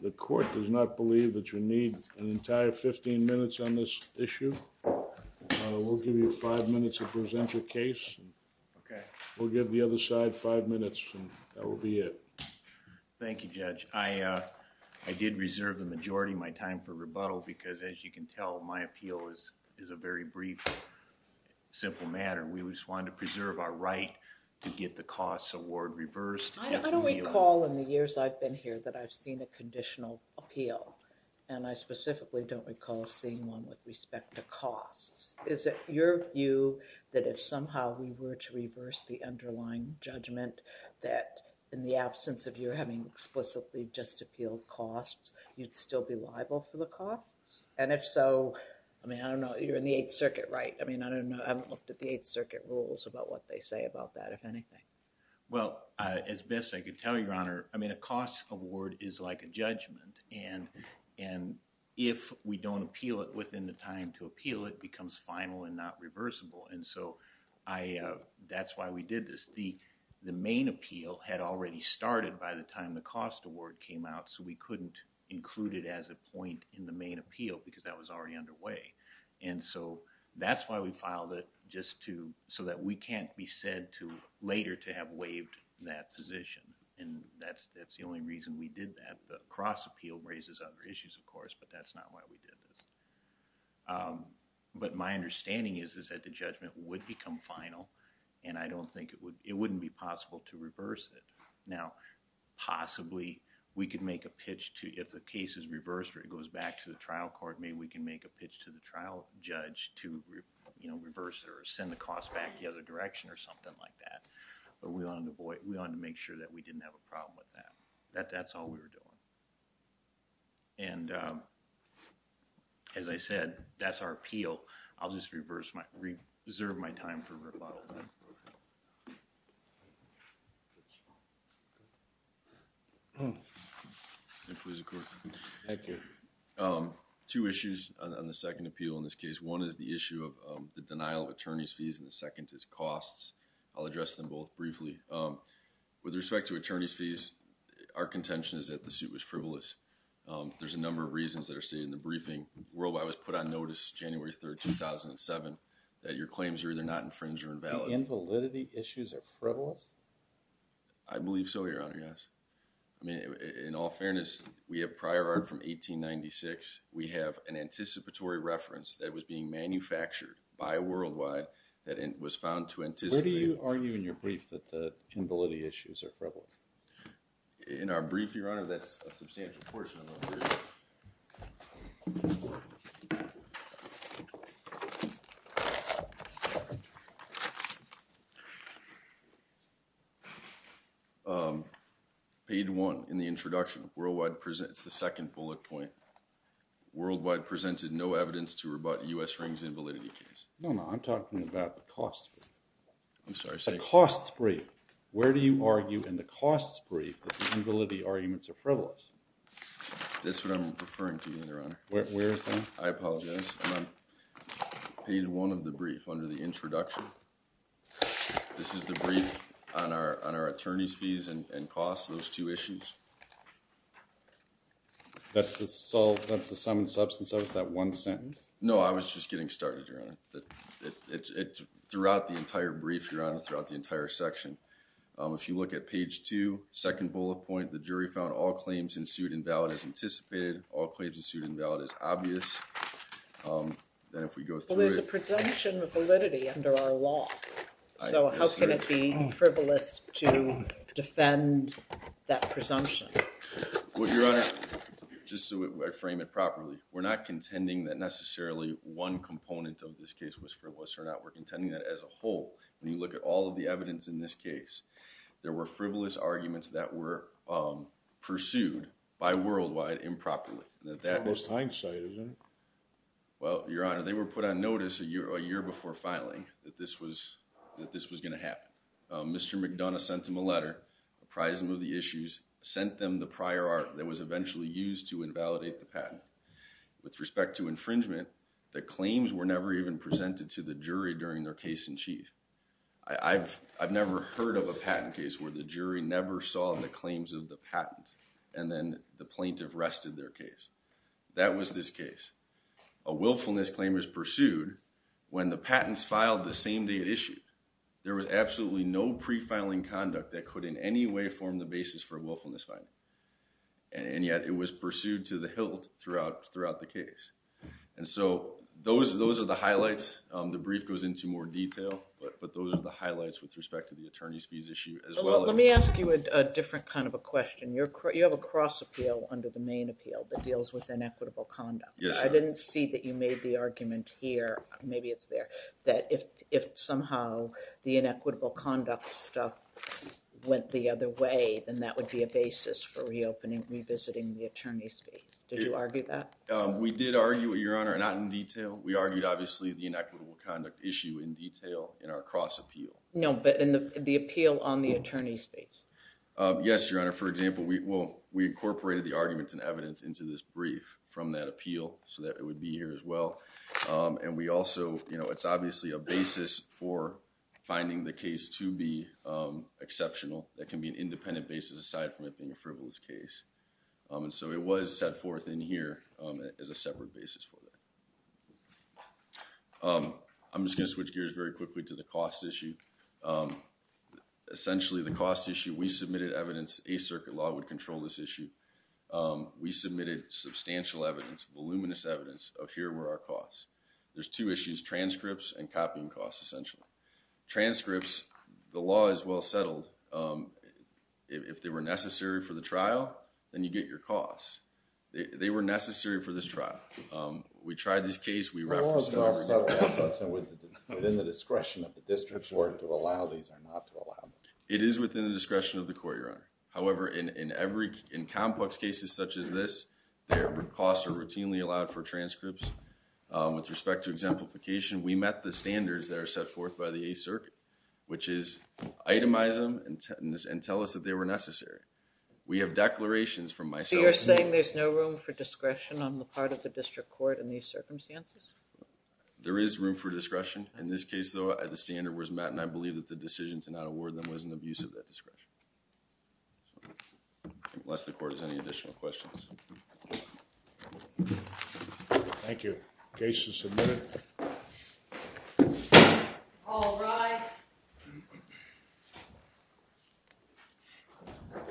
The court does not believe that you need an entire 15 minutes on this issue. We'll give you five minutes to present your case. We'll give the other side five minutes and that will be it. Thank you Judge. I did reserve the majority of my time for rebuttal because as you can tell my appeal is a very brief simple matter. We just wanted to preserve our right to get the costs award reversed. I don't recall in the years I've been here that I've seen a conditional appeal and I specifically don't recall seeing one with respect to costs. Is it your view that if somehow we were to reverse the underlying judgment that in the absence of you having explicitly just appealed costs, you'd still be liable for the costs? And if so, I mean, I don't know. You're in the Eighth Circuit, right? I mean, I don't know. I haven't looked at the Eighth Circuit rules about what they say about that, if anything. Well, as best I could tell you, Your Honor, I mean, a cost award is like a judgment and if we don't appeal it within the time to appeal, it becomes final and not reversible. And so, that's why we did this. The main appeal had already started by the time the cost award came out so we couldn't include it as a point in the main appeal because that was already underway. And so, that's why we filed it just to so that we can't be said to later to have waived that position. And that's the only reason we did that. The cross appeal raises other issues, of course, but that's not why we did this. But my understanding is that the judgment would become final and I don't think it would, it wouldn't be possible to reverse it. Now, possibly, we could make a pitch to, if the case is reversed or it goes back to the trial court, maybe we can make a pitch to the trial judge to, you know, reverse it or send the cost back the other direction or something like that. But we wanted to avoid, we wanted to make sure that we didn't have a problem with that. That's all we were doing. And as I said, that's our appeal. I'll just reverse my, reserve my time for rebuttal. Thank you. Two issues on the second appeal in this case. One is the issue of the denial of attorney's fees and the second is costs. I'll address them both briefly. With respect to attorney's fees, our contention is that the suit was frivolous. There's a number of reasons that are stated in the briefing. Worldwide was put on notice January 3rd, 2007, that your claims are either not infringed or invalid. The invalidity issues are frivolous? I believe so, your honor, yes. I mean, in all fairness, we have prior art from 1896. We have an anticipatory reference that was being manufactured by Worldwide that was found to anticipate. Where do you argue in your brief that the invalidity issues are frivolous? In our brief, your honor, that's a substantial portion of our brief. Paid one in the introduction. Worldwide presents the second bullet point. Worldwide presented no evidence to rebut U.S. Ring's invalidity case. No, no, I'm talking about the costs. I'm sorry. The costs brief. Where do you argue in the costs brief that the invalidity arguments are frivolous? That's what I'm referring to, your honor. Where is that? I apologize. Page one of the brief under the introduction. This is the brief on our attorney's fees and costs, those two issues. That's the sum and substance of it, that one sentence? No, I was just getting started, your honor. It's throughout the entire brief, your honor, throughout the entire section. If you look at page two, second bullet point, the jury found all claims in suit invalid as anticipated, all claims in suit invalid as obvious. Then if we go through it. Well, there's a presumption of validity under our law. So how can it be frivolous to defend that presumption? Well, your honor, just so I frame it properly, we're not contending that necessarily one component of this case was frivolous or not. We're contending that as a whole, when you look at all of the evidence in this case, there were frivolous arguments that were pursued by Worldwide improperly. That was hindsight, your honor. Well, your honor, they were put on notice a year before filing that this was going to happen. Mr. McDonough sent him a letter, apprised him of the issues, sent them the prior art that was eventually used to invalidate the patent. With respect to infringement, the claims were never even presented to the jury during their case in chief. I've never heard of a patent case where the jury never saw the claims of the patent and then the plaintiff arrested their case. That was this case. A willfulness claim is pursued when the patents filed the same day it issued. There was absolutely no pre-filing conduct that could in any way form the basis for a willfulness finding. And yet it was pursued to the hilt throughout the case. And so those are the highlights. The brief goes into more detail, but those are the highlights with respect to the attorney's fees issue as well. Let me ask you a different kind of a question. You have a cross appeal under the main appeal that deals with inequitable conduct. I didn't see that you made the argument here, maybe it's there, that if somehow the inequitable conduct stuff went the other way, then that would be a basis for reopening, revisiting the attorney's fees. Did you argue that? We did argue it, your honor, not in detail. We argued obviously the inequitable conduct issue in detail in our cross appeal. No, but in the appeal on the attorney's fees? Yes, your honor. For example, we incorporated the arguments and evidence into this brief from that appeal so that it would be here as well. And we also, you know, it's obviously a basis for finding the case to be exceptional. That can be an independent basis aside from it being a frivolous case. And so it was set forth in here as a separate basis for that. I'm just going to switch gears very quickly to the cost issue. Essentially, the cost issue, we submitted evidence, a circuit law would control this issue. We submitted substantial evidence, voluminous evidence of here were our costs. There's two issues, transcripts and copying costs essentially. Transcripts, the law is well settled. If they were necessary for the trial, then you get your costs. They were necessary for this trial. We tried this case, we referenced it. The law is well settled within the discretion of the district court to allow these or not to allow them. It is within the discretion of the court, your honor. However, in complex cases such as this, their costs are routinely allowed for transcripts. With respect to exemplification, we met the standards that are set forth by the 8th Circuit, which is itemize them and tell us that they were necessary. We have declarations from myself. You're saying there's no room for discretion on the part of the district court in these circumstances? There is room for discretion. In this case, though, the standard was met and I to not award them was an abuse of that discretion. Unless the court has any additional questions. Thank you. Case is submitted. All rise.